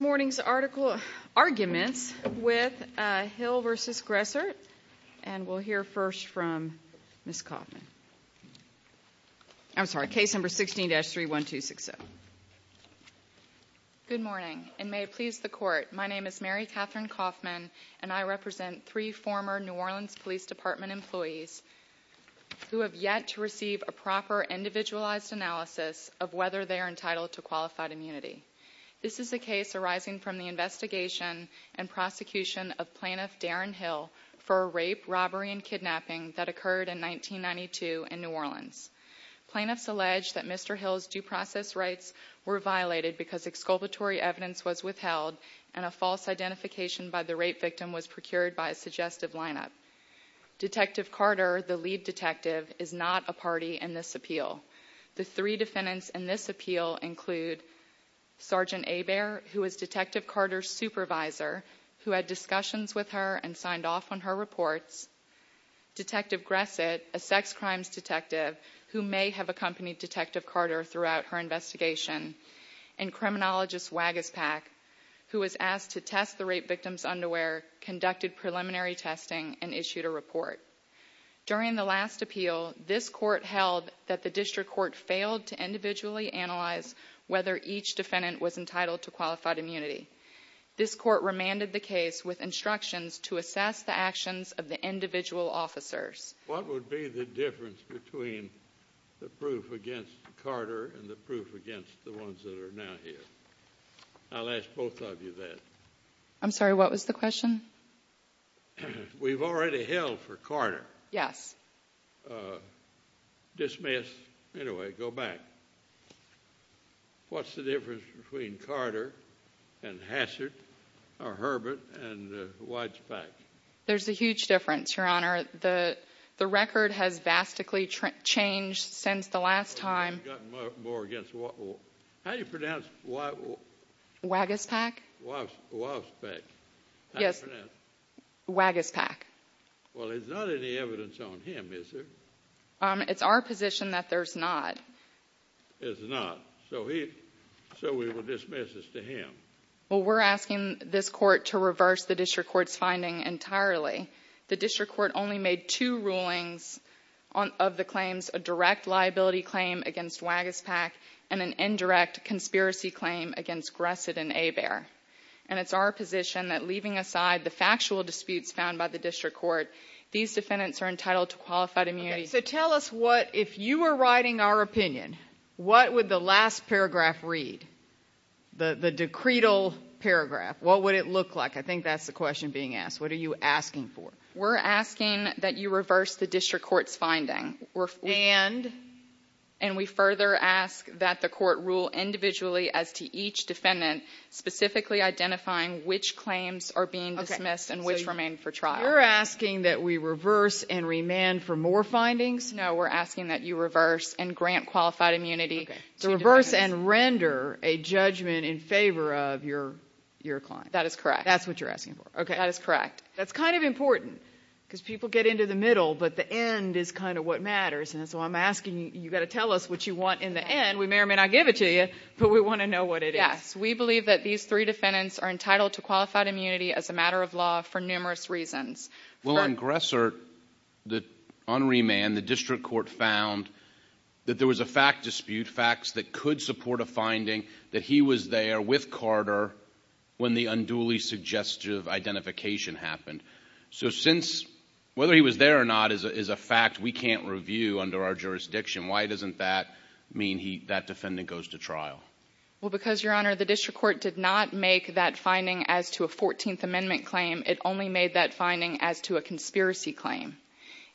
Morning's arguments with Hill v. Gressert, and we'll hear first from Ms. Kaufman. I'm sorry, case number 16-31260. Good morning, and may it please the Court, my name is Mary Katherine Kaufman, and I represent three former New Orleans Police Department employees who have yet to receive a proper, individualized analysis of whether they are entitled to qualified immunity. This is a case arising from the investigation and prosecution of Plaintiff Darren Hill for a rape, robbery, and kidnapping that occurred in 1992 in New Orleans. Plaintiffs allege that Mr. Hill's due process rights were violated because exculpatory evidence was withheld and a false identification by the rape victim was procured by a suggestive lineup. Detective Carter, the lead detective, is not a party in this appeal. The three defendants in this appeal include Sergeant Hebert, who was Detective Carter's supervisor, who had discussions with her and signed off on her reports, Detective Gressert, a sex crimes detective, who may have accompanied Detective Carter throughout her investigation, and criminologist Wagaspak, who was asked to test the rape victim's underwear, conducted preliminary testing, and issued a report. During the last appeal, this court held that the district court failed to individually analyze whether each defendant was entitled to qualified immunity. This court remanded the case with instructions to assess the actions of the individual officers. What would be the difference between the proof against Carter and the proof against the ones that are now here? I'll ask both of you that. I'm sorry, what was the question? We've already held for Carter. Yes. Dismissed. Anyway, go back. What's the difference between Carter and Hassard, or Herbert, and Wagaspak? There's a huge difference, Your Honor. The record has vastly changed since the last time. How do you pronounce Wagaspak? Wagaspak. How do you pronounce it? Wagaspak. Well, there's not any evidence on him, is there? It's our position that there's not. There's not. So we will dismiss this to him. Well, we're asking this court to reverse the district court's finding entirely. The district court only made two rulings of the claims, a direct liability claim against Wagaspak and an indirect conspiracy claim against Gressit and Hebert. And it's our position that, leaving aside the factual disputes found by the district court, these defendants are entitled to qualified immunity. Okay. So tell us what, if you were writing our opinion, what would the last paragraph read, the decretal paragraph, what would it look like? I think that's the question being asked. What are you asking for? We're asking that you reverse the district court's finding. And? And we further ask that the court rule individually as to each defendant, specifically identifying which claims are being dismissed and which remain for trial. You're asking that we reverse and remand for more findings? No. We're asking that you reverse and grant qualified immunity. To reverse and render a judgment in favor of your client. That is correct. That's what you're asking for. That is correct. That's kind of important, because people get into the middle, but the end is kind of what matters. And so I'm asking you, you've got to tell us what you want in the end. We may or may not give it to you, but we want to know what it is. Yes. We believe that these three defendants are entitled to qualified immunity as a matter of law for numerous reasons. Well, on Gressert, on remand, the district court found that there was a fact dispute, facts that could support a finding that he was there with Carter when the unduly suggestive identification happened. So since whether he was there or not is a fact we can't review under our jurisdiction, why doesn't that mean that defendant goes to trial? Well, because, Your Honor, the district court did not make that finding as to a 14th Amendment claim. It only made that finding as to a conspiracy claim.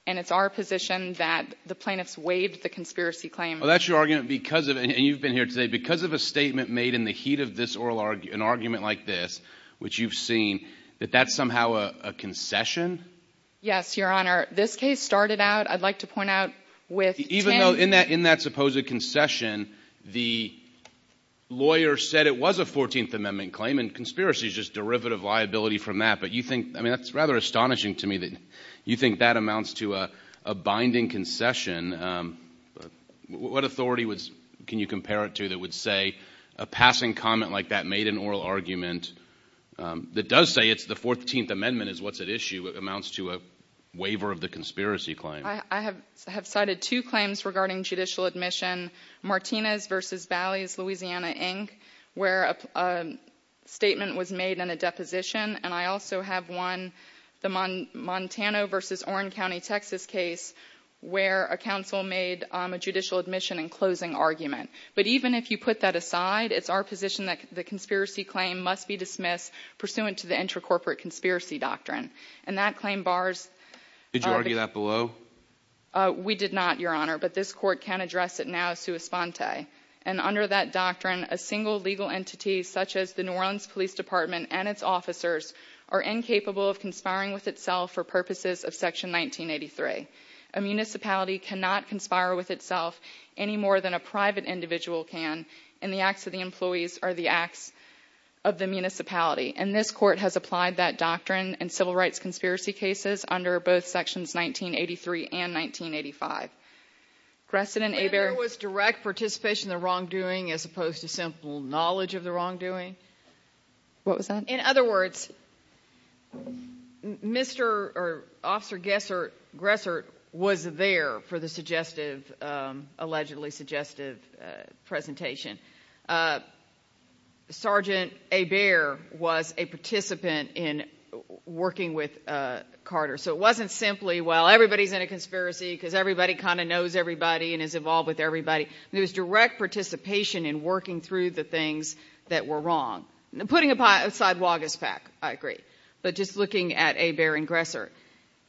And it's our position that the plaintiffs waived the conspiracy claim. Well, that's your argument. And you've been here today. Because of a statement made in the heat of an argument like this, which you've seen, that that's somehow a concession? Yes, Your Honor. This case started out, I'd like to point out, with 10. Even though in that supposed concession, the lawyer said it was a 14th Amendment claim, and conspiracy is just derivative liability from that. But you think, I mean, that's rather astonishing to me that you think that amounts to a binding concession. What authority can you compare it to that would say a passing comment like that made an oral argument that does say it's the 14th Amendment is what's at issue amounts to a waiver of the conspiracy claim? I have cited two claims regarding judicial admission. Martinez v. Bally's, Louisiana, Inc., where a statement was made in a deposition. And I also have one, the Montana v. Oren County, Texas case, where a counsel made a judicial admission in closing argument. But even if you put that aside, it's our position that the conspiracy claim must be dismissed pursuant to the Intracorporate Conspiracy Doctrine. And that claim bars— Did you argue that below? We did not, Your Honor. But this Court can address it now sua sponte. And under that doctrine, a single legal entity such as the New Orleans Police Department and its officers are incapable of conspiring with itself for purposes of Section 1983. A municipality cannot conspire with itself any more than a private individual can in the acts of the employees or the acts of the municipality. And this Court has applied that doctrine in civil rights conspiracy cases under both Sections 1983 and 1985. Gressen and Hebert? There was direct participation in the wrongdoing as opposed to simple knowledge of the wrongdoing. What was that? In other words, Mr. or Officer Gressert was there for the suggestive, allegedly suggestive presentation. Sergeant Hebert was a participant in working with Carter. So it wasn't simply, well, everybody's in a conspiracy because everybody kind of knows everybody and is involved with everybody. There was direct participation in working through the things that were wrong. Putting aside Wagaspak, I agree. But just looking at Hebert and Gressert,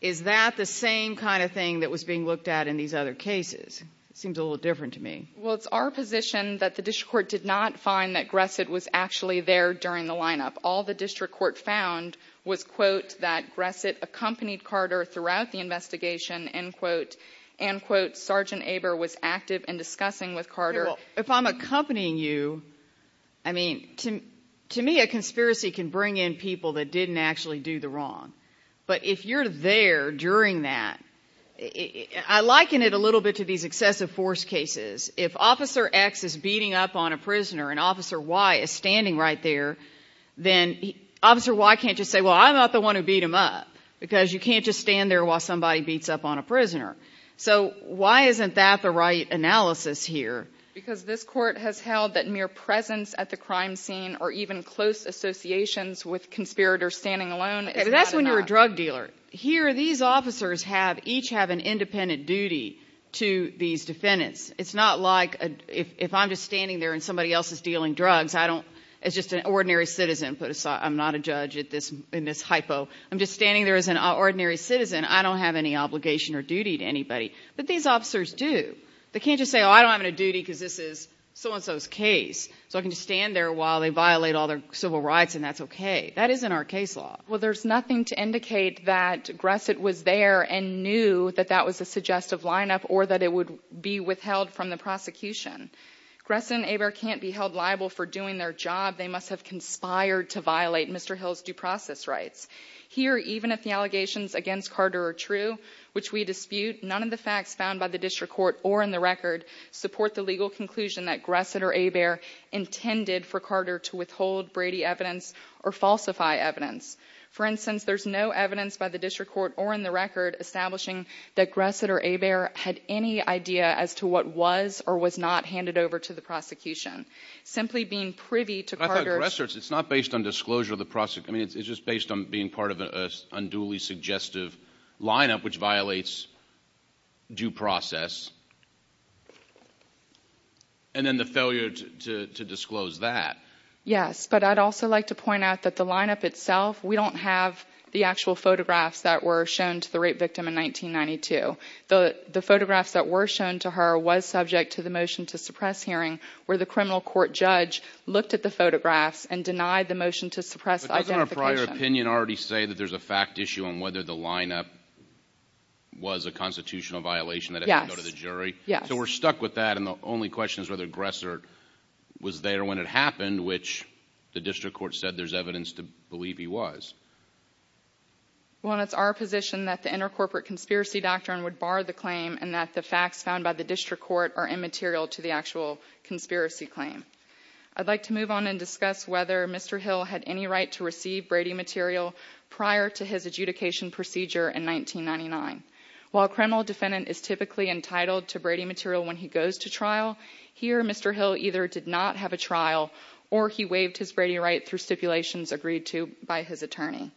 is that the same kind of thing that was being looked at in these other cases? It seems a little different to me. Well, it's our position that the District Court did not find that Gressert was actually there during the lineup. All the District Court found was, quote, that Gressert accompanied Carter throughout the investigation, end quote. End quote. Sergeant Hebert was active in discussing with Carter. Well, if I'm accompanying you, I mean, to me a conspiracy can bring in people that didn't actually do the wrong. But if you're there during that, I liken it a little bit to these excessive force cases. If Officer X is beating up on a prisoner and Officer Y is standing right there, then Officer Y can't just say, well, I'm not the one who beat him up, because you can't just stand there while somebody beats up on a prisoner. So why isn't that the right analysis here? Because this Court has held that mere presence at the crime scene or even close associations with conspirators standing alone is not enough. Okay, but that's when you're a drug dealer. Here, these officers each have an independent duty to these defendants. It's not like if I'm just standing there and somebody else is dealing drugs, I don't, as just an ordinary citizen, put aside, I'm not a judge in this hypo, I'm just standing there as an ordinary citizen, I don't have any obligation or duty to anybody. But these officers do. They can't just say, oh, I don't have any duty because this is so-and-so's case, so I can just stand there while they violate all their civil rights and that's okay. That isn't our case law. Well, there's nothing to indicate that Gressert was there and knew that that was a suggestive lineup or that it would be withheld from the prosecution. Gressert and Hebert can't be held liable for doing their job. They must have conspired to violate Mr. Hill's due process rights. Here, even if the allegations against Carter are true, which we dispute, none of the facts found by the district court or in the record support the legal conclusion that Gressert or Hebert intended for Carter to withhold Brady evidence or falsify evidence. For instance, there's no evidence by the district court or in the record establishing that Gressert or Hebert had any idea as to what was or was not handed over to the prosecution. Simply being privy to Carter's – I thought Gressert's, it's not based on disclosure of the – I mean, it's just based on being part of an unduly suggestive lineup which violates due process. And then the failure to disclose that. Yes, but I'd also like to point out that the lineup itself, we don't have the actual photographs that were shown to the rape victim in 1992. The photographs that were shown to her were subject to the motion to suppress hearing where the criminal court judge looked at the photographs and denied the motion to suppress identification. Doesn't our prior opinion already say that there's a fact issue on whether the lineup was a constitutional violation that had to go to the jury? Yes. So we're stuck with that and the only question is whether Gressert was there when it happened, which the district court said there's evidence to believe he was. Well, it's our position that the intercorporate conspiracy doctrine would bar the claim and that the facts found by the district court are immaterial to the actual conspiracy claim. I'd like to move on and discuss whether Mr. Hill had any right to receive Brady material prior to his adjudication procedure in 1999. While a criminal defendant is typically entitled to Brady material when he goes to trial, here Mr. Hill either did not have a trial or he waived his Brady right through stipulations agreed to by his attorney.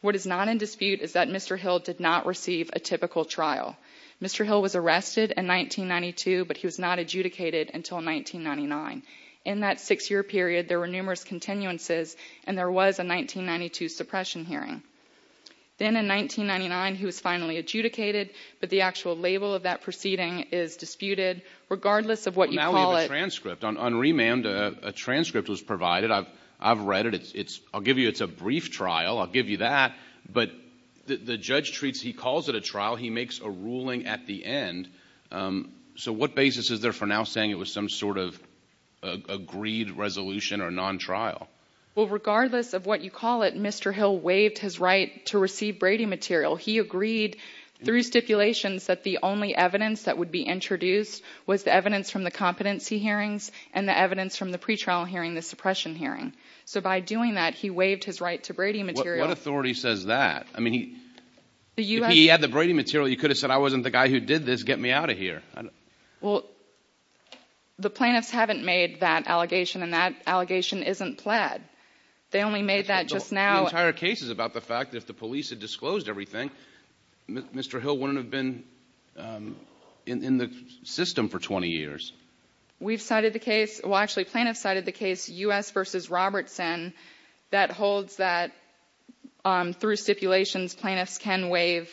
What is not in dispute is that Mr. Hill did not receive a typical trial. Mr. Hill was arrested in 1992, but he was not adjudicated until 1999. In that six-year period, there were numerous continuances and there was a 1992 suppression hearing. Then in 1999, he was finally adjudicated, but the actual label of that proceeding is disputed. Regardless of what you call it. Now we have a transcript. On remand, a transcript was provided. I've read it. I'll give you it's a brief trial. I'll give you that. But the judge treats he calls it a trial. He makes a ruling at the end. So what basis is there for now saying it was some sort of agreed resolution or non-trial? Well, regardless of what you call it, Mr. Hill waived his right to receive Brady material. He agreed through stipulations that the only evidence that would be introduced was the evidence from the competency hearings and the evidence from the pretrial hearing, the suppression hearing. So by doing that, he waived his right to Brady material. What authority says that? I mean, he had the Brady material. You could have said I wasn't the guy who did this. Get me out of here. Well, the plaintiffs haven't made that allegation, and that allegation isn't plaid. They only made that just now. The entire case is about the fact that if the police had disclosed everything, Mr. Hill wouldn't have been in the system for 20 years. We've cited the case. Well, actually, plaintiffs cited the case U.S. v. Robertson that holds that through stipulations, plaintiffs can waive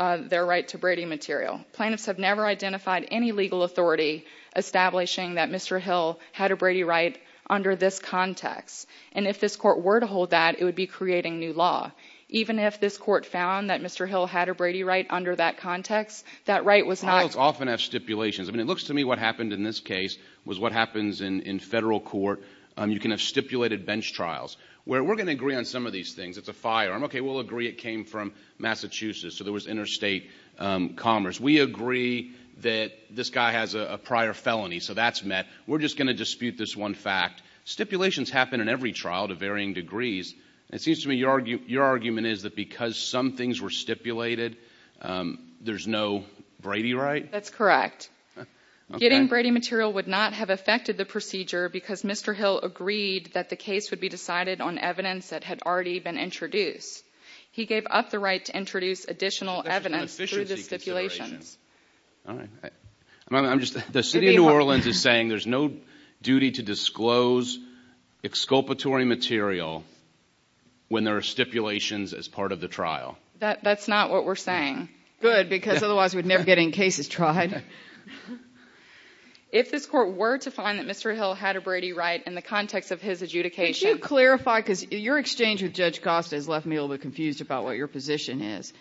their right to Brady material. Plaintiffs have never identified any legal authority establishing that Mr. Hill had a Brady right under this context. And if this court were to hold that, it would be creating new law. Even if this court found that Mr. Hill had a Brady right under that context, that right was not— Trials often have stipulations. I mean, it looks to me what happened in this case was what happens in federal court. You can have stipulated bench trials where we're going to agree on some of these things. It's a firearm. Okay, we'll agree it came from Massachusetts, so there was interstate commerce. We agree that this guy has a prior felony, so that's met. We're just going to dispute this one fact. Stipulations happen in every trial to varying degrees. It seems to me your argument is that because some things were stipulated, there's no Brady right? That's correct. Getting Brady material would not have affected the procedure because Mr. Hill agreed that the case would be decided on evidence that had already been introduced. He gave up the right to introduce additional evidence through the stipulations. All right. The city of New Orleans is saying there's no duty to disclose exculpatory material when there are stipulations as part of the trial. That's not what we're saying. Good, because otherwise we'd never get any cases tried. If this court were to find that Mr. Hill had a Brady right in the context of his adjudication— I'm a little bit confused about what your position is.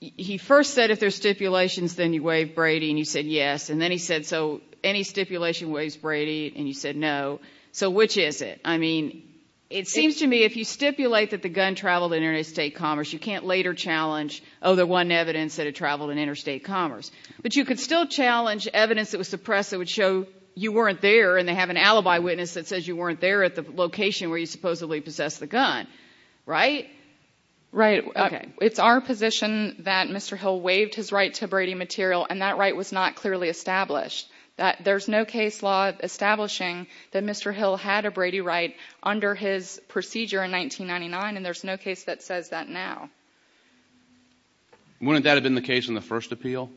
He first said if there's stipulations, then you waive Brady, and you said yes, and then he said so any stipulation waives Brady, and you said no. So which is it? I mean, it seems to me if you stipulate that the gun traveled in interstate commerce, you can't later challenge, oh, the one evidence that it traveled in interstate commerce. But you could still challenge evidence that was suppressed that would show you weren't there, and they have an alibi witness that says you weren't there at the location where you supposedly possessed the gun. Right? Right. It's our position that Mr. Hill waived his right to Brady material, and that right was not clearly established. There's no case law establishing that Mr. Hill had a Brady right under his procedure in 1999, and there's no case that says that now. Wouldn't that have been the case in the first appeal?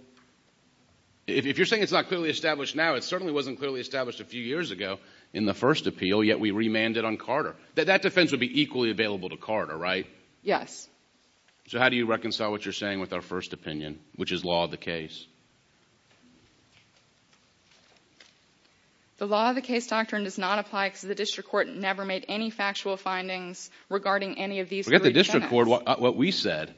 If you're saying it's not clearly established now, it certainly wasn't clearly established a few years ago in the first appeal, yet we remanded on Carter. That defense would be equally available to Carter, right? Yes. So how do you reconcile what you're saying with our first opinion, which is law of the case? The law of the case doctrine does not apply because the district court never made any factual findings regarding any of these three defendants. Forget the district court. What we said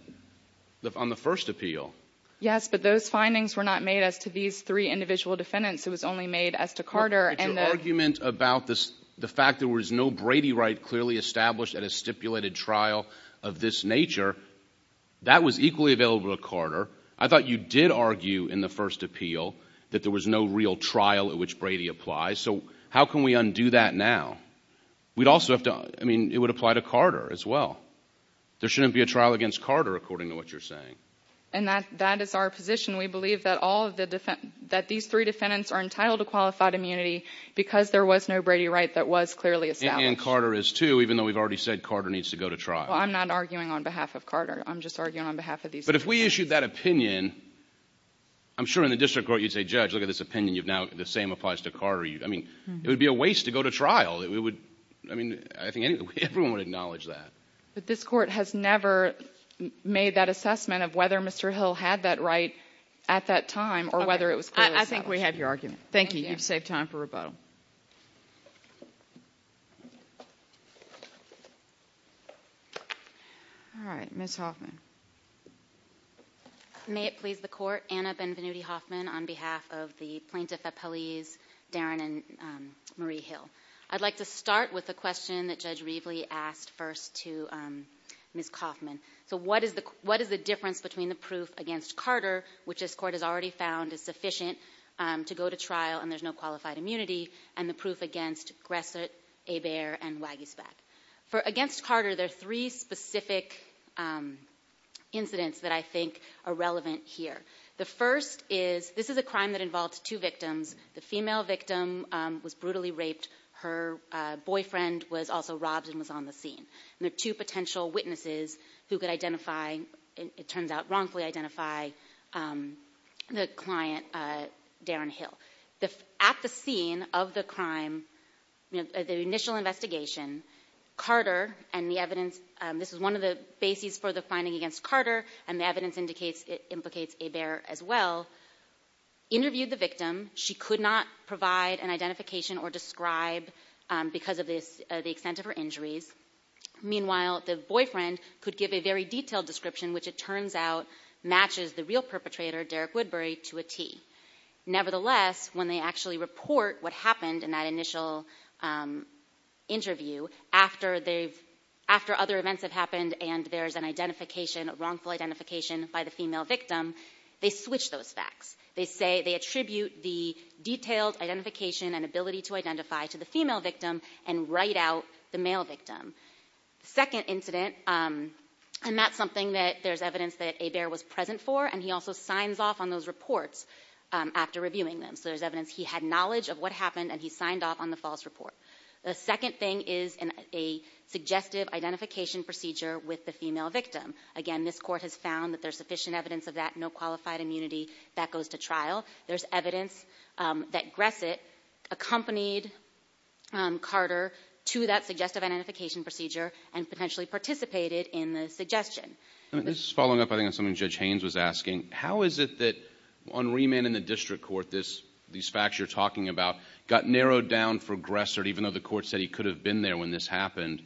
on the first appeal. Yes, but those findings were not made as to these three individual defendants. It was only made as to Carter. But your argument about the fact there was no Brady right clearly established at a stipulated trial of this nature, that was equally available to Carter. I thought you did argue in the first appeal that there was no real trial at which Brady applies. So how can we undo that now? We'd also have to—I mean, it would apply to Carter as well. There shouldn't be a trial against Carter, according to what you're saying. And that is our position. We believe that these three defendants are entitled to qualified immunity because there was no Brady right that was clearly established. And Carter is, too, even though we've already said Carter needs to go to trial. Well, I'm not arguing on behalf of Carter. I'm just arguing on behalf of these defendants. But if we issued that opinion, I'm sure in the district court you'd say, Judge, look at this opinion. The same applies to Carter. I mean, it would be a waste to go to trial. I mean, I think everyone would acknowledge that. But this Court has never made that assessment of whether Mr. Hill had that right at that time or whether it was clearly established. I think we have your argument. Thank you. You've saved time for rebuttal. All right. Ms. Hoffman. May it please the Court. Anna Benvenuti Hoffman on behalf of the plaintiff appellees, Darren and Marie Hill. I'd like to start with a question that Judge Reveley asked first to Ms. Hoffman. So what is the difference between the proof against Carter, which this Court has already found is sufficient to go to trial and there's no qualified immunity, and the proof against Gresset, Hebert, and Wagisback? For against Carter, there are three specific incidents that I think are relevant here. The first is this is a crime that involved two victims. The female victim was brutally raped. Her boyfriend was also robbed and was on the scene. And there are two potential witnesses who could identify, it turns out, wrongfully identify the client, Darren Hill. At the scene of the crime, the initial investigation, Carter and the evidence, this is one of the bases for the finding against Carter, and the evidence indicates it implicates Hebert as well, interviewed the victim. She could not provide an identification or describe because of the extent of her injuries. Meanwhile, the boyfriend could give a very detailed description, which it turns out matches the real perpetrator, Derek Woodbury, to a T. Nevertheless, when they actually report what happened in that initial interview, after other events have happened and there's an identification, a wrongful identification by the female victim, they switch those facts. They say they attribute the detailed identification and ability to identify to the female victim and write out the male victim. The second incident, and that's something that there's evidence that Hebert was present for, and he also signs off on those reports after reviewing them. So there's evidence he had knowledge of what happened and he signed off on the false report. The second thing is a suggestive identification procedure with the female victim. Again, this court has found that there's sufficient evidence of that, no qualified immunity. That goes to trial. There's evidence that Gressett accompanied Carter to that suggestive identification procedure and potentially participated in the suggestion. This is following up, I think, on something Judge Haynes was asking. How is it that on remand in the district court these facts you're talking about got narrowed down for Gressett, even though the court said he could have been there when this happened,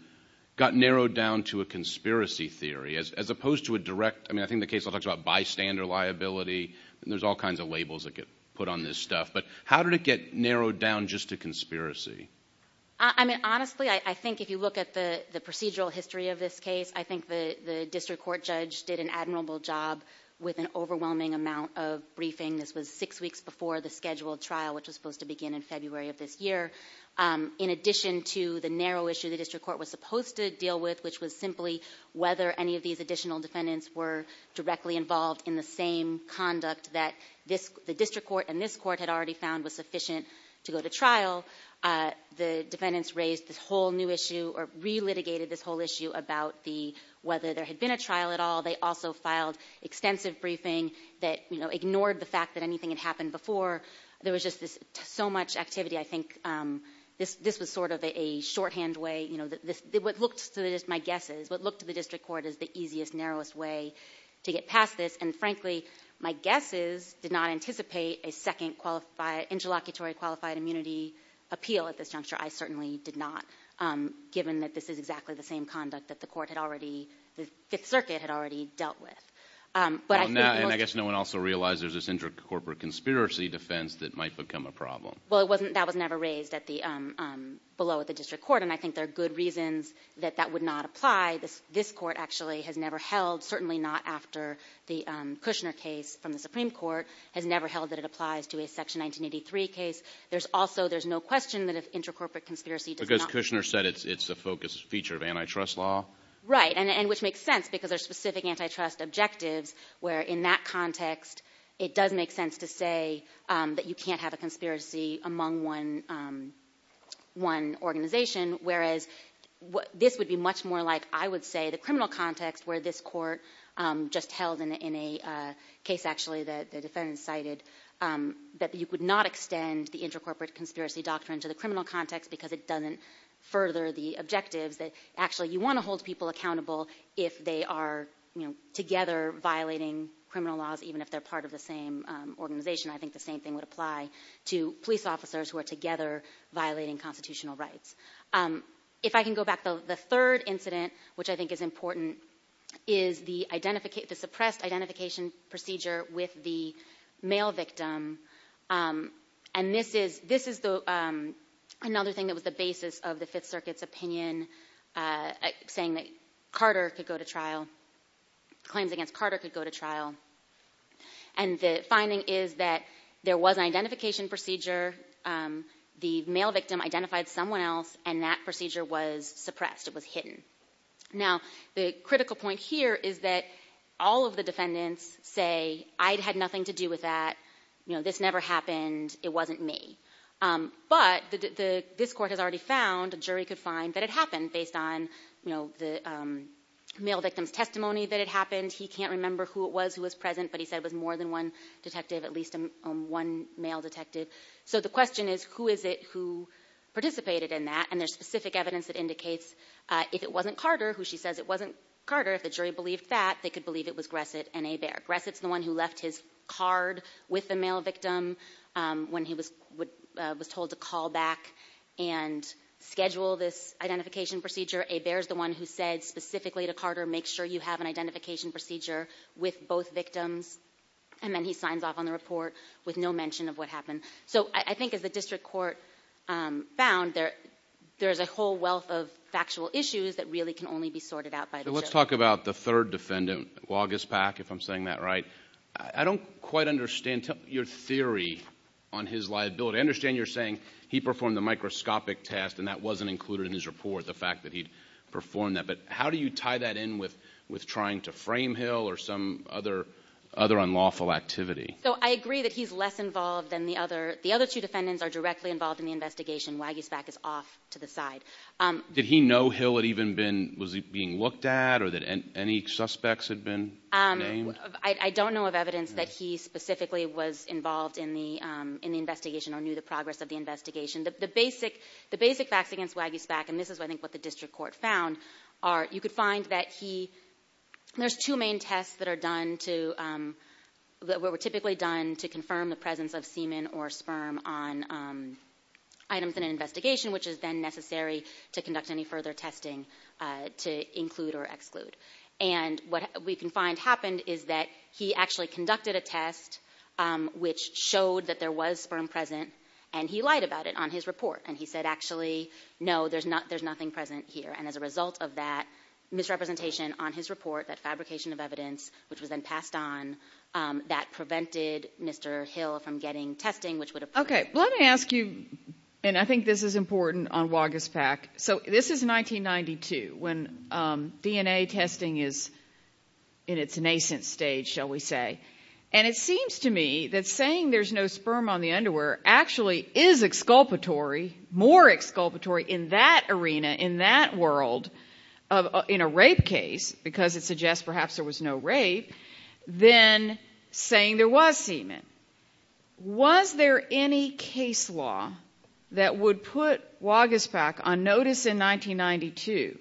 got narrowed down to a conspiracy theory as opposed to a direct. I mean, I think the case talks about bystander liability, and there's all kinds of labels that get put on this stuff. But how did it get narrowed down just to conspiracy? I mean, honestly, I think if you look at the procedural history of this case, I think the district court judge did an admirable job with an overwhelming amount of briefing. This was six weeks before the scheduled trial, which was supposed to begin in February of this year. In addition to the narrow issue the district court was supposed to deal with, which was simply whether any of these additional defendants were directly involved in the same conduct that the district court and this court had already found was sufficient to go to trial, the defendants raised this whole new issue or re-litigated this whole issue about whether there had been a trial at all. They also filed extensive briefing that ignored the fact that anything had happened before. There was just so much activity. I think this was sort of a shorthand way. What looked to my guess is what looked to the district court as the easiest, narrowest way to get past this. And frankly, my guess is did not anticipate a second interlocutory qualified immunity appeal at this juncture. I certainly did not, given that this is exactly the same conduct that the court had already, the Fifth Circuit had already dealt with. And I guess no one also realized there's this inter-corporate conspiracy defense that might become a problem. Well, that was never raised below at the district court, and I think there are good reasons that that would not apply. This court actually has never held, certainly not after the Kushner case from the Supreme Court, has never held that it applies to a Section 1983 case. There's also, there's no question that if inter-corporate conspiracy does not Because Kushner said it's a focused feature of antitrust law. Right, and which makes sense because there's specific antitrust objectives where, in that context, it does make sense to say that you can't have a conspiracy among one organization, whereas this would be much more like, I would say, the criminal context where this court just held in a case, actually, that the defendant cited, that you could not extend the inter-corporate conspiracy doctrine to the criminal context because it doesn't further the objectives that, actually, you want to hold people accountable if they are together violating criminal laws, even if they're part of the same organization. I think the same thing would apply to police officers who are together violating constitutional rights. If I can go back, the third incident, which I think is important, is the suppressed identification procedure with the male victim. And this is another thing that was the basis of the Fifth Circuit's opinion, saying that Carter could go to trial, claims against Carter could go to trial. And the finding is that there was an identification procedure, the male victim identified someone else, and that procedure was suppressed, it was hidden. Now, the critical point here is that all of the defendants say, I had nothing to do with that, this never happened, it wasn't me. But this court has already found, a jury could find, that it happened based on the male victim's testimony that it happened. He can't remember who it was who was present, but he said it was more than one detective, at least one male detective. So the question is, who is it who participated in that? And there's specific evidence that indicates if it wasn't Carter, who she says it wasn't Carter, if the jury believed that, they could believe it was Gressit and Hebert. Gressit's the one who left his card with the male victim when he was told to call back and schedule this identification procedure. Hebert's the one who said specifically to Carter, make sure you have an identification procedure with both victims. And then he signs off on the report with no mention of what happened. So I think as the district court found, there's a whole wealth of factual issues that really can only be sorted out by the jury. Let's talk about the third defendant, Wagespach, if I'm saying that right. I don't quite understand your theory on his liability. I understand you're saying he performed the microscopic test and that wasn't included in his report, the fact that he performed that. But how do you tie that in with trying to frame Hill or some other unlawful activity? So I agree that he's less involved than the other. The other two defendants are directly involved in the investigation. Wagespach is off to the side. Did he know Hill was being looked at or that any suspects had been named? I don't know of evidence that he specifically was involved in the investigation or knew the progress of the investigation. The basic facts against Wagespach, and this is, I think, what the district court found, are you could find that there's two main tests that were typically done to confirm the presence of semen or sperm on items in an investigation, which is then necessary to conduct any further testing to include or exclude. And what we can find happened is that he actually conducted a test which showed that there was sperm present, and he lied about it on his report, and he said, actually, no, there's nothing present here. And as a result of that misrepresentation on his report, that fabrication of evidence, which was then passed on, that prevented Mr. Hill from getting testing, which would have prevented him. Okay, let me ask you, and I think this is important on Wagespach. So this is 1992 when DNA testing is in its nascent stage, shall we say, and it seems to me that saying there's no sperm on the underwear actually is exculpatory, more exculpatory in that arena, in that world, in a rape case, because it suggests perhaps there was no rape, than saying there was semen. Was there any case law that would put Wagespach on notice in 1992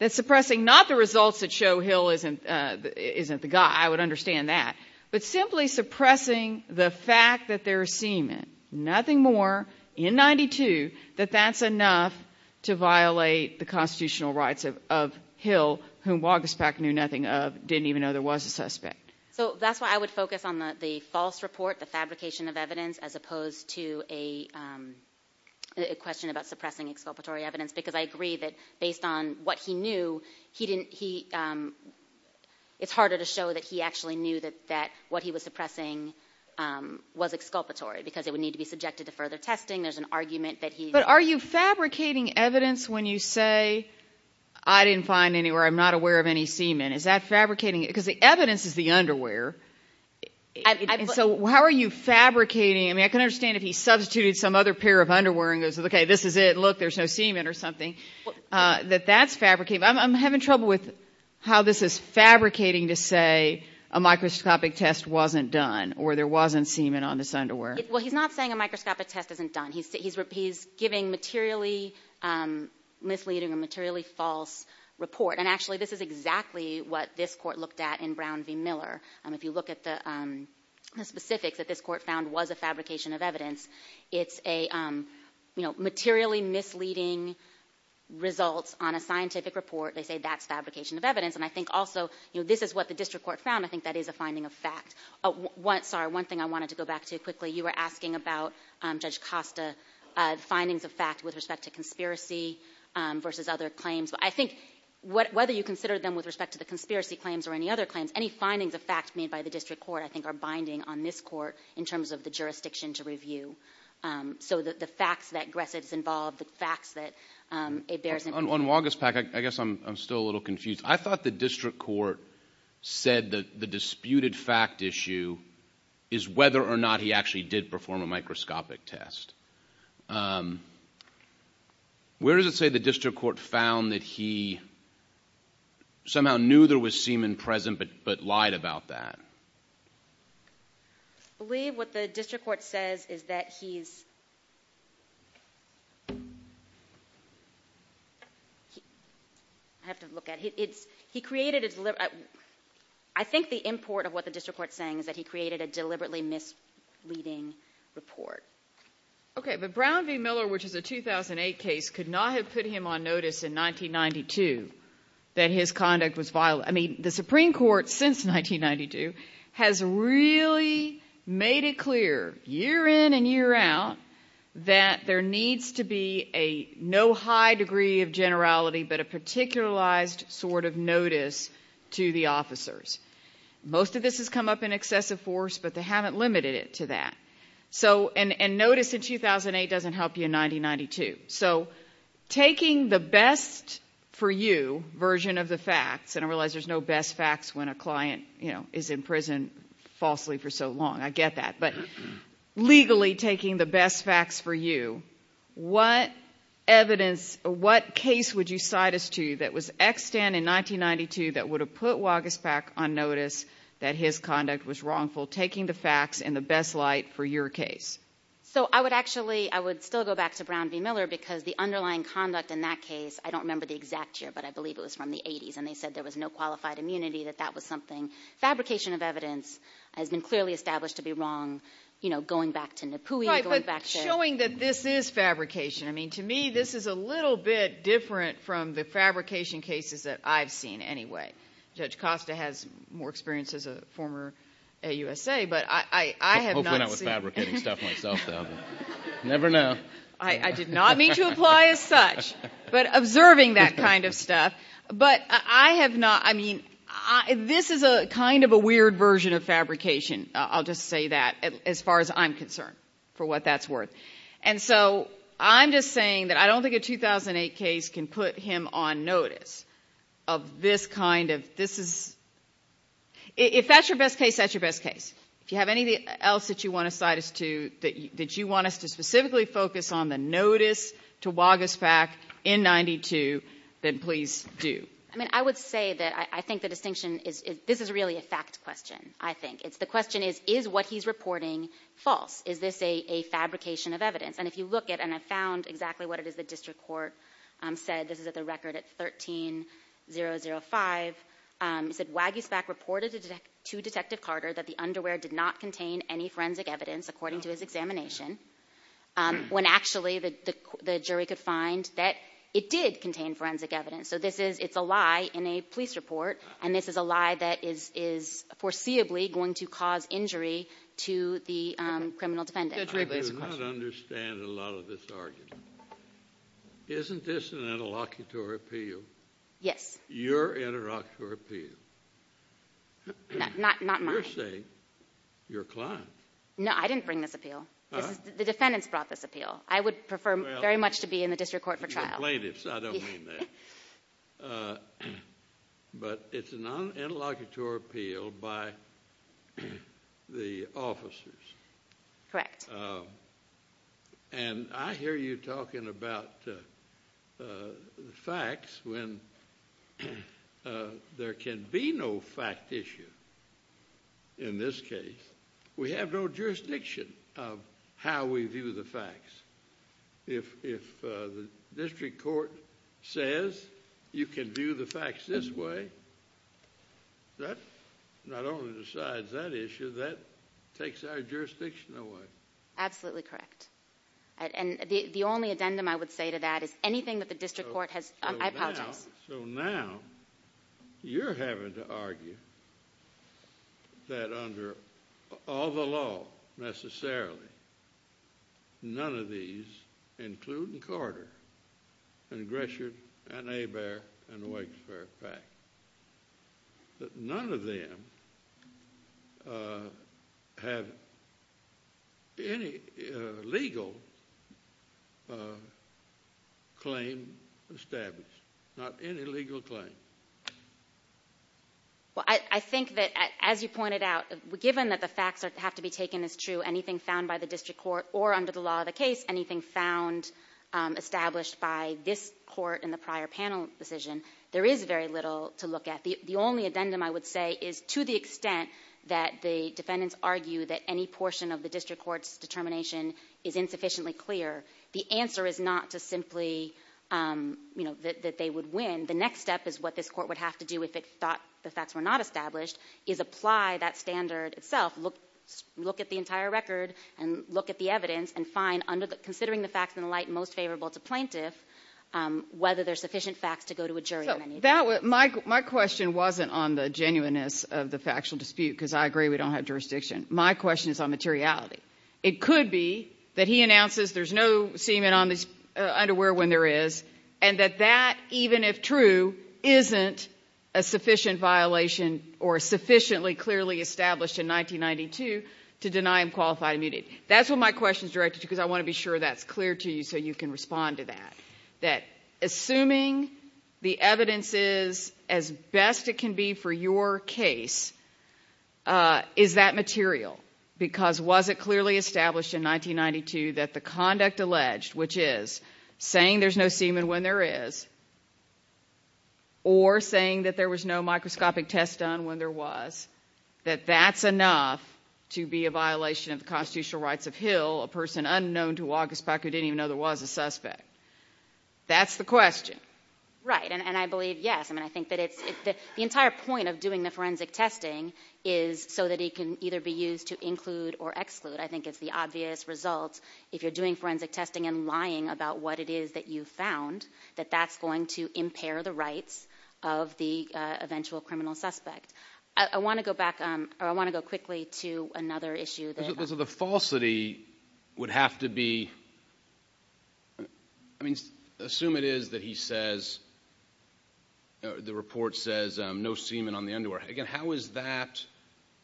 that suppressing not the results that show Hill isn't the guy, I would understand that, but simply suppressing the fact that there's semen, nothing more, in 1992, that that's enough to violate the constitutional rights of Hill, whom Wagespach knew nothing of, didn't even know there was a suspect. So that's why I would focus on the false report, the fabrication of evidence, as opposed to a question about suppressing exculpatory evidence, because I agree that based on what he knew, it's harder to show that he actually knew that what he was suppressing was exculpatory, because it would need to be subjected to further testing, there's an argument that he... But are you fabricating evidence when you say, I didn't find anywhere, I'm not aware of any semen, is that fabricating, because the evidence is the underwear, and so how are you fabricating, I mean, I can understand if he substituted some other pair of underwear and goes, okay, this is it, look, there's no semen or something, that that's fabricating, I'm having trouble with how this is fabricating to say a microscopic test wasn't done, or there wasn't semen on this underwear. Well, he's not saying a microscopic test isn't done. He's giving materially misleading or materially false report, and actually this is exactly what this Court looked at in Brown v. Miller. If you look at the specifics that this Court found was a fabrication of evidence, it's a materially misleading results on a scientific report, they say that's fabrication of evidence, and I think also this is what the District Court found, I think that is a finding of fact. Sorry, one thing I wanted to go back to quickly, you were asking about Judge Costa, findings of fact with respect to conspiracy versus other claims. I think whether you consider them with respect to the conspiracy claims or any other claims, any findings of fact made by the District Court I think are binding on this Court in terms of the jurisdiction to review. So the facts that aggressive is involved, the facts that it bears in mind. On Wagaspak, I guess I'm still a little confused. I thought the District Court said that the disputed fact issue is whether or not he actually did perform a microscopic test. Where does it say the District Court found that he somehow knew there was semen present but lied about that? I believe what the District Court says is that he's – I have to look at it. I think the import of what the District Court is saying is that he created a deliberately misleading report. Okay, but Brown v. Miller, which is a 2008 case, could not have put him on notice in 1992 that his conduct was – I mean, the Supreme Court since 1992 has really made it clear year in and year out that there needs to be no high degree of generality but a particularized sort of notice to the officers. Most of this has come up in excessive force, but they haven't limited it to that. So – and notice in 2008 doesn't help you in 1992. So taking the best for you version of the facts – and I realize there's no best facts when a client is in prison falsely for so long. I get that. But legally taking the best facts for you, what evidence – what case would you cite us to that was extant in 1992 that would have put Wagaspak on notice that his conduct was wrongful, taking the facts in the best light for your case? So I would actually – I would still go back to Brown v. Miller because the underlying conduct in that case – I don't remember the exact year, but I believe it was from the 80s, and they said there was no qualified immunity, that that was something. Fabrication of evidence has been clearly established to be wrong. You know, going back to Napoui, going back to – Right, but showing that this is fabrication. I mean, to me, this is a little bit different from the fabrication cases that I've seen anyway. Judge Costa has more experience as a former AUSA, but I have not seen – Hopefully not with fabricating stuff myself, though. Never know. But I have not – I mean, this is kind of a weird version of fabrication. I'll just say that as far as I'm concerned for what that's worth. And so I'm just saying that I don't think a 2008 case can put him on notice of this kind of – this is – if that's your best case, that's your best case. If you have anything else that you want to cite us to, that you want us to specifically focus on, the notice to Wagisback in 92, then please do. I mean, I would say that I think the distinction is – this is really a fact question, I think. The question is, is what he's reporting false? Is this a fabrication of evidence? And if you look at – and I found exactly what it is the district court said. This is at the record at 13-005. It said, Wagisback reported to Detective Carter that the underwear did not contain any forensic evidence, according to his examination, when actually the jury could find that it did contain forensic evidence. So this is – it's a lie in a police report, and this is a lie that is foreseeably going to cause injury to the criminal defendant. I do not understand a lot of this argument. Isn't this an interlocutory appeal? Yes. Your interlocutory appeal. Not mine. You're saying your client. No, I didn't bring this appeal. The defendants brought this appeal. I would prefer very much to be in the district court for trial. You're plaintiffs. I don't mean that. But it's a non-interlocutory appeal by the officers. Correct. And I hear you talking about facts when there can be no fact issue in this case. We have no jurisdiction of how we view the facts. If the district court says you can view the facts this way, that not only decides that issue, that takes our jurisdiction away. Absolutely correct. And the only addendum I would say to that is anything that the district court has – I apologize. So now you're having to argue that under all the law necessarily, none of these, including Carter and Gresham and Hebert and Wakesfair, that none of them have any legal claim established, not any legal claim. Well, I think that as you pointed out, given that the facts have to be taken as true, anything found by the district court or under the law of the case, anything found established by this court in the prior panel decision, there is very little to look at. The only addendum I would say is to the extent that the defendants argue that any portion of the district court's determination is insufficiently clear, the answer is not to simply, you know, that they would win. The next step is what this court would have to do if it thought the facts were not established, is apply that standard itself, look at the entire record and look at the evidence and find, considering the facts in the light most favorable to plaintiff, whether there's sufficient facts to go to a jury on any of these. My question wasn't on the genuineness of the factual dispute because I agree we don't have jurisdiction. My question is on materiality. It could be that he announces there's no semen on his underwear when there is and that that, even if true, isn't a sufficient violation or sufficiently clearly established in 1992 to deny him qualified immunity. That's what my question is directed to because I want to be sure that's clear to you so you can respond to that, that assuming the evidence is as best it can be for your case, is that material because was it clearly established in 1992 that the conduct alleged, which is saying there's no semen when there is or saying that there was no microscopic test done when there was, that that's enough to be a violation of the constitutional rights of Hill, a person unknown to August Peck who didn't even know there was a suspect? That's the question. Right, and I believe, yes. I mean, I think that the entire point of doing the forensic testing is so that it can either be used to include or exclude. I think it's the obvious result, if you're doing forensic testing and lying about what it is that you found, that that's going to impair the rights of the eventual criminal suspect. I want to go back, or I want to go quickly to another issue. So the falsity would have to be, I mean, assume it is that he says, the report says no semen on the underwear. Again, how is that,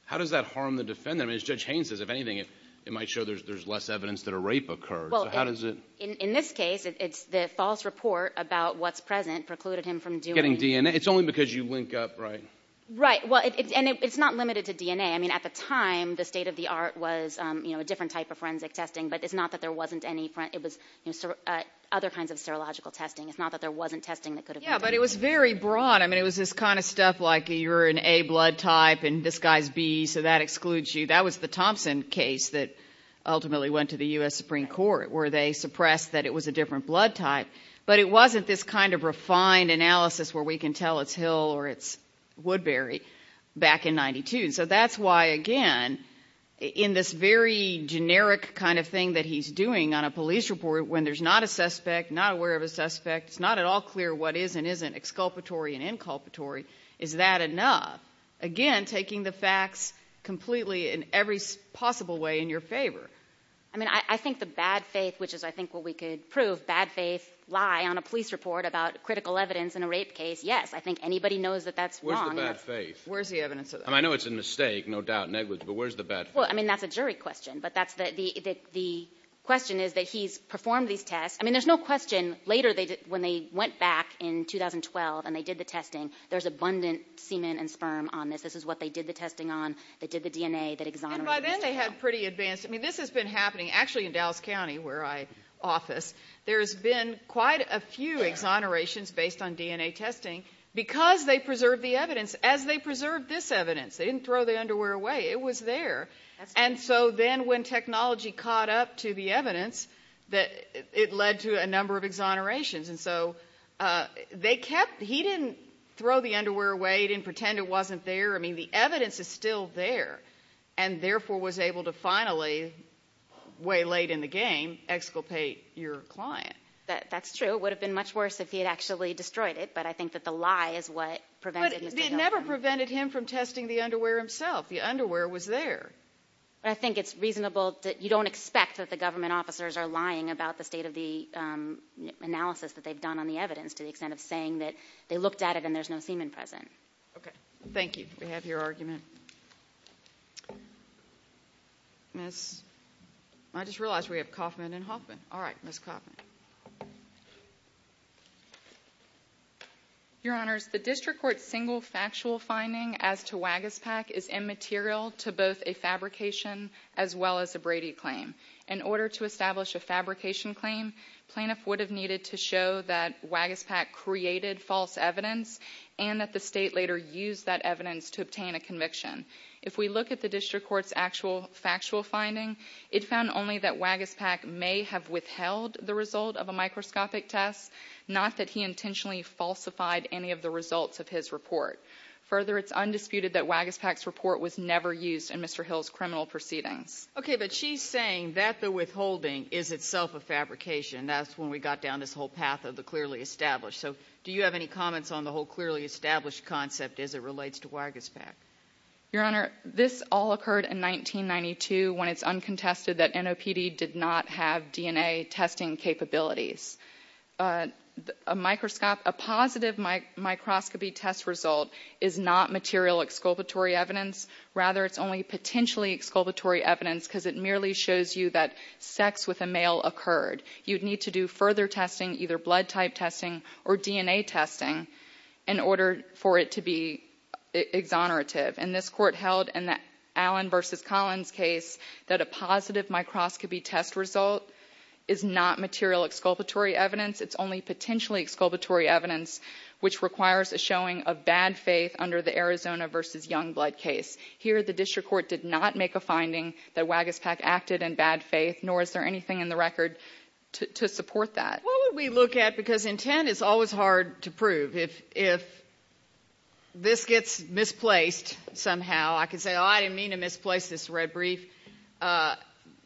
how does that harm the defendant? I mean, as Judge Haynes says, if anything, it might show there's less evidence that a rape occurred. So how does it? In this case, it's the false report about what's present precluded him from doing. Getting DNA. It's only because you link up, right? Right, and it's not limited to DNA. I mean, at the time, the state of the art was a different type of forensic testing, but it's not that there wasn't any, it was other kinds of serological testing. It's not that there wasn't testing that could have been done. Yeah, but it was very broad. I mean, it was this kind of stuff like you're an A blood type and this guy's B, so that excludes you. That was the Thompson case that ultimately went to the U.S. Supreme Court where they suppressed that it was a different blood type. But it wasn't this kind of refined analysis where we can tell it's Hill or it's Woodbury back in 92. So that's why, again, in this very generic kind of thing that he's doing on a police report when there's not a suspect, not aware of a suspect, it's not at all clear what is and isn't exculpatory and inculpatory, is that enough? Again, taking the facts completely in every possible way in your favor. I mean, I think the bad faith, which is I think what we could prove, bad faith lie on a police report about critical evidence in a rape case, yes. I think anybody knows that that's wrong. Where's the bad faith? Where's the evidence of that? I know it's a mistake, no doubt, negligible, but where's the bad faith? Well, I mean, that's a jury question. But the question is that he's performed these tests. I mean, there's no question later when they went back in 2012 and they did the testing, there's abundant semen and sperm on this. This is what they did the testing on. They did the DNA that exonerated himself. And by then they had pretty advanced. I mean, this has been happening actually in Dallas County where I office. There's been quite a few exonerations based on DNA testing because they preserved the evidence. As they preserved this evidence, they didn't throw the underwear away. It was there. And so then when technology caught up to the evidence, it led to a number of exonerations. And so they kept he didn't throw the underwear away. He didn't pretend it wasn't there. I mean, the evidence is still there and therefore was able to finally way late in the game exculpate your client. That's true. It would have been much worse if he had actually destroyed it. But I think that the lie is what prevented him. It never prevented him from testing the underwear himself. The underwear was there. I think it's reasonable that you don't expect that the government officers are lying about the state of the analysis that they've done on the evidence to the extent of saying that they looked at it and there's no semen present. Okay. Thank you. We have your argument. I just realized we have Kaufman and Hoffman. All right, Ms. Kaufman. Your Honors, the district court's single factual finding as to Wagaspak is immaterial to both a fabrication as well as a Brady claim. In order to establish a fabrication claim, plaintiff would have needed to show that Wagaspak created false evidence and that the state later used that evidence to obtain a conviction. If we look at the district court's actual factual finding, it found only that Wagaspak may have withheld the result of a microscopic test, not that he intentionally falsified any of the results of his report. Further, it's undisputed that Wagaspak's report was never used in Mr. Hill's criminal proceedings. Okay, but she's saying that the withholding is itself a fabrication. That's when we got down this whole path of the clearly established. So do you have any comments on the whole clearly established concept as it relates to Wagaspak? Your Honor, this all occurred in 1992 when it's uncontested that NOPD did not have DNA testing capabilities. A positive microscopy test result is not material exculpatory evidence. Rather, it's only potentially exculpatory evidence because it merely shows you that sex with a male occurred. You'd need to do further testing, either blood type testing or DNA testing, in order for it to be exonerative. And this court held in the Allen v. Collins case that a positive microscopy test result is not material exculpatory evidence. It's only potentially exculpatory evidence which requires a showing of bad faith under the Arizona v. Youngblood case. Here, the district court did not make a finding that Wagaspak acted in bad faith, nor is there anything in the record to support that. What would we look at? Because intent is always hard to prove. If this gets misplaced somehow, I could say, oh, I didn't mean to misplace this red brief.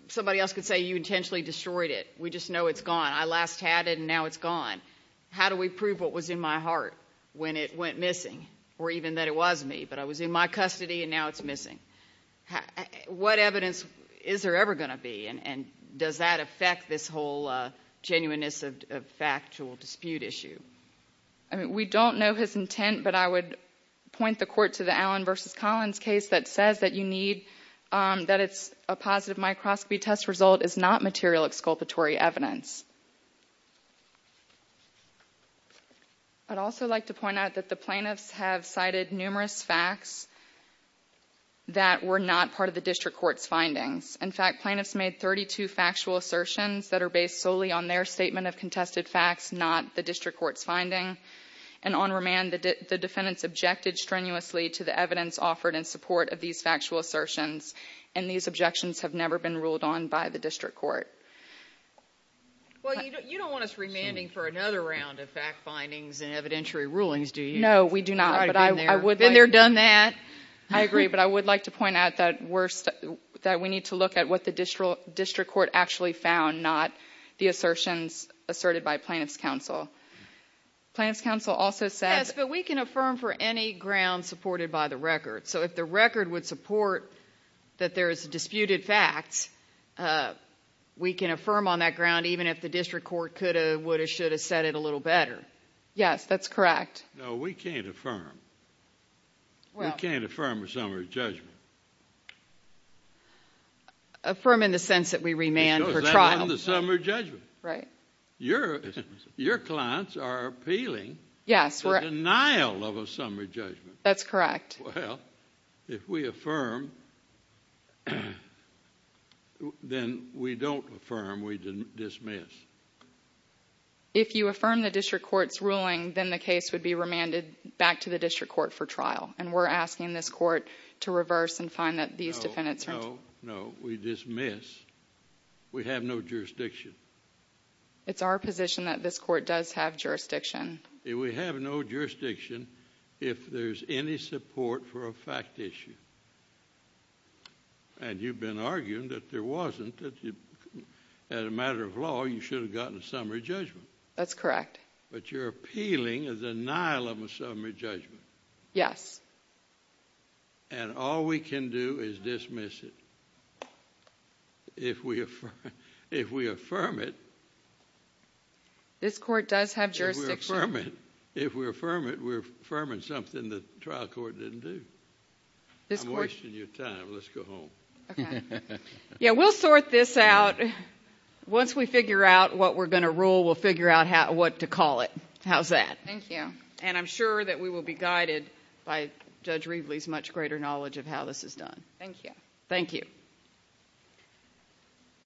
Somebody else could say you intentionally destroyed it. We just know it's gone. I last had it, and now it's gone. How do we prove what was in my heart when it went missing, or even that it was me, but I was in my custody and now it's missing? What evidence is there ever going to be, and does that affect this whole genuineness of factual dispute issue? We don't know his intent, but I would point the court to the Allen v. Collins case that says that you need, that it's a positive microscopy test result is not material exculpatory evidence. I'd also like to point out that the plaintiffs have cited numerous facts that were not part of the district court's findings. In fact, plaintiffs made 32 factual assertions that are based solely on their statement of contested facts, not the district court's finding. And on remand, the defendants objected strenuously to the evidence offered in support of these factual assertions, and these objections have never been ruled on by the district court. Well, you don't want us remanding for another round of fact findings and evidentiary rulings, do you? No, we do not. And they're done that. I agree, but I would like to point out that we need to look at what the district court actually found, not the assertions asserted by plaintiffs' counsel. Plaintiffs' counsel also said— Yes, but we can affirm for any ground supported by the record. So if the record would support that there is disputed facts, we can affirm on that ground, even if the district court could have, would have, should have said it a little better. Yes, that's correct. No, we can't affirm. We can't affirm a summary judgment. Affirm in the sense that we remand for trial. Because that isn't a summary judgment. Right. Your clients are appealing the denial of a summary judgment. That's correct. Well, if we affirm, then we don't affirm. We dismiss. If you affirm the district court's ruling, then the case would be remanded back to the district court for trial. And we're asking this court to reverse and find that these defendants are— No, no. We dismiss. We have no jurisdiction. It's our position that this court does have jurisdiction. We have no jurisdiction if there's any support for a fact issue. And you've been arguing that there wasn't, that as a matter of law, you should have gotten a summary judgment. That's correct. But you're appealing the denial of a summary judgment. Yes. And all we can do is dismiss it. If we affirm it— This court does have jurisdiction. If we affirm it, we're affirming something the trial court didn't do. I'm wasting your time. Let's go home. Okay. Yeah, we'll sort this out. Once we figure out what we're going to rule, we'll figure out what to call it. How's that? Thank you. And I'm sure that we will be guided by Judge Rieveley's much greater knowledge of how this is done. Thank you. Thank you.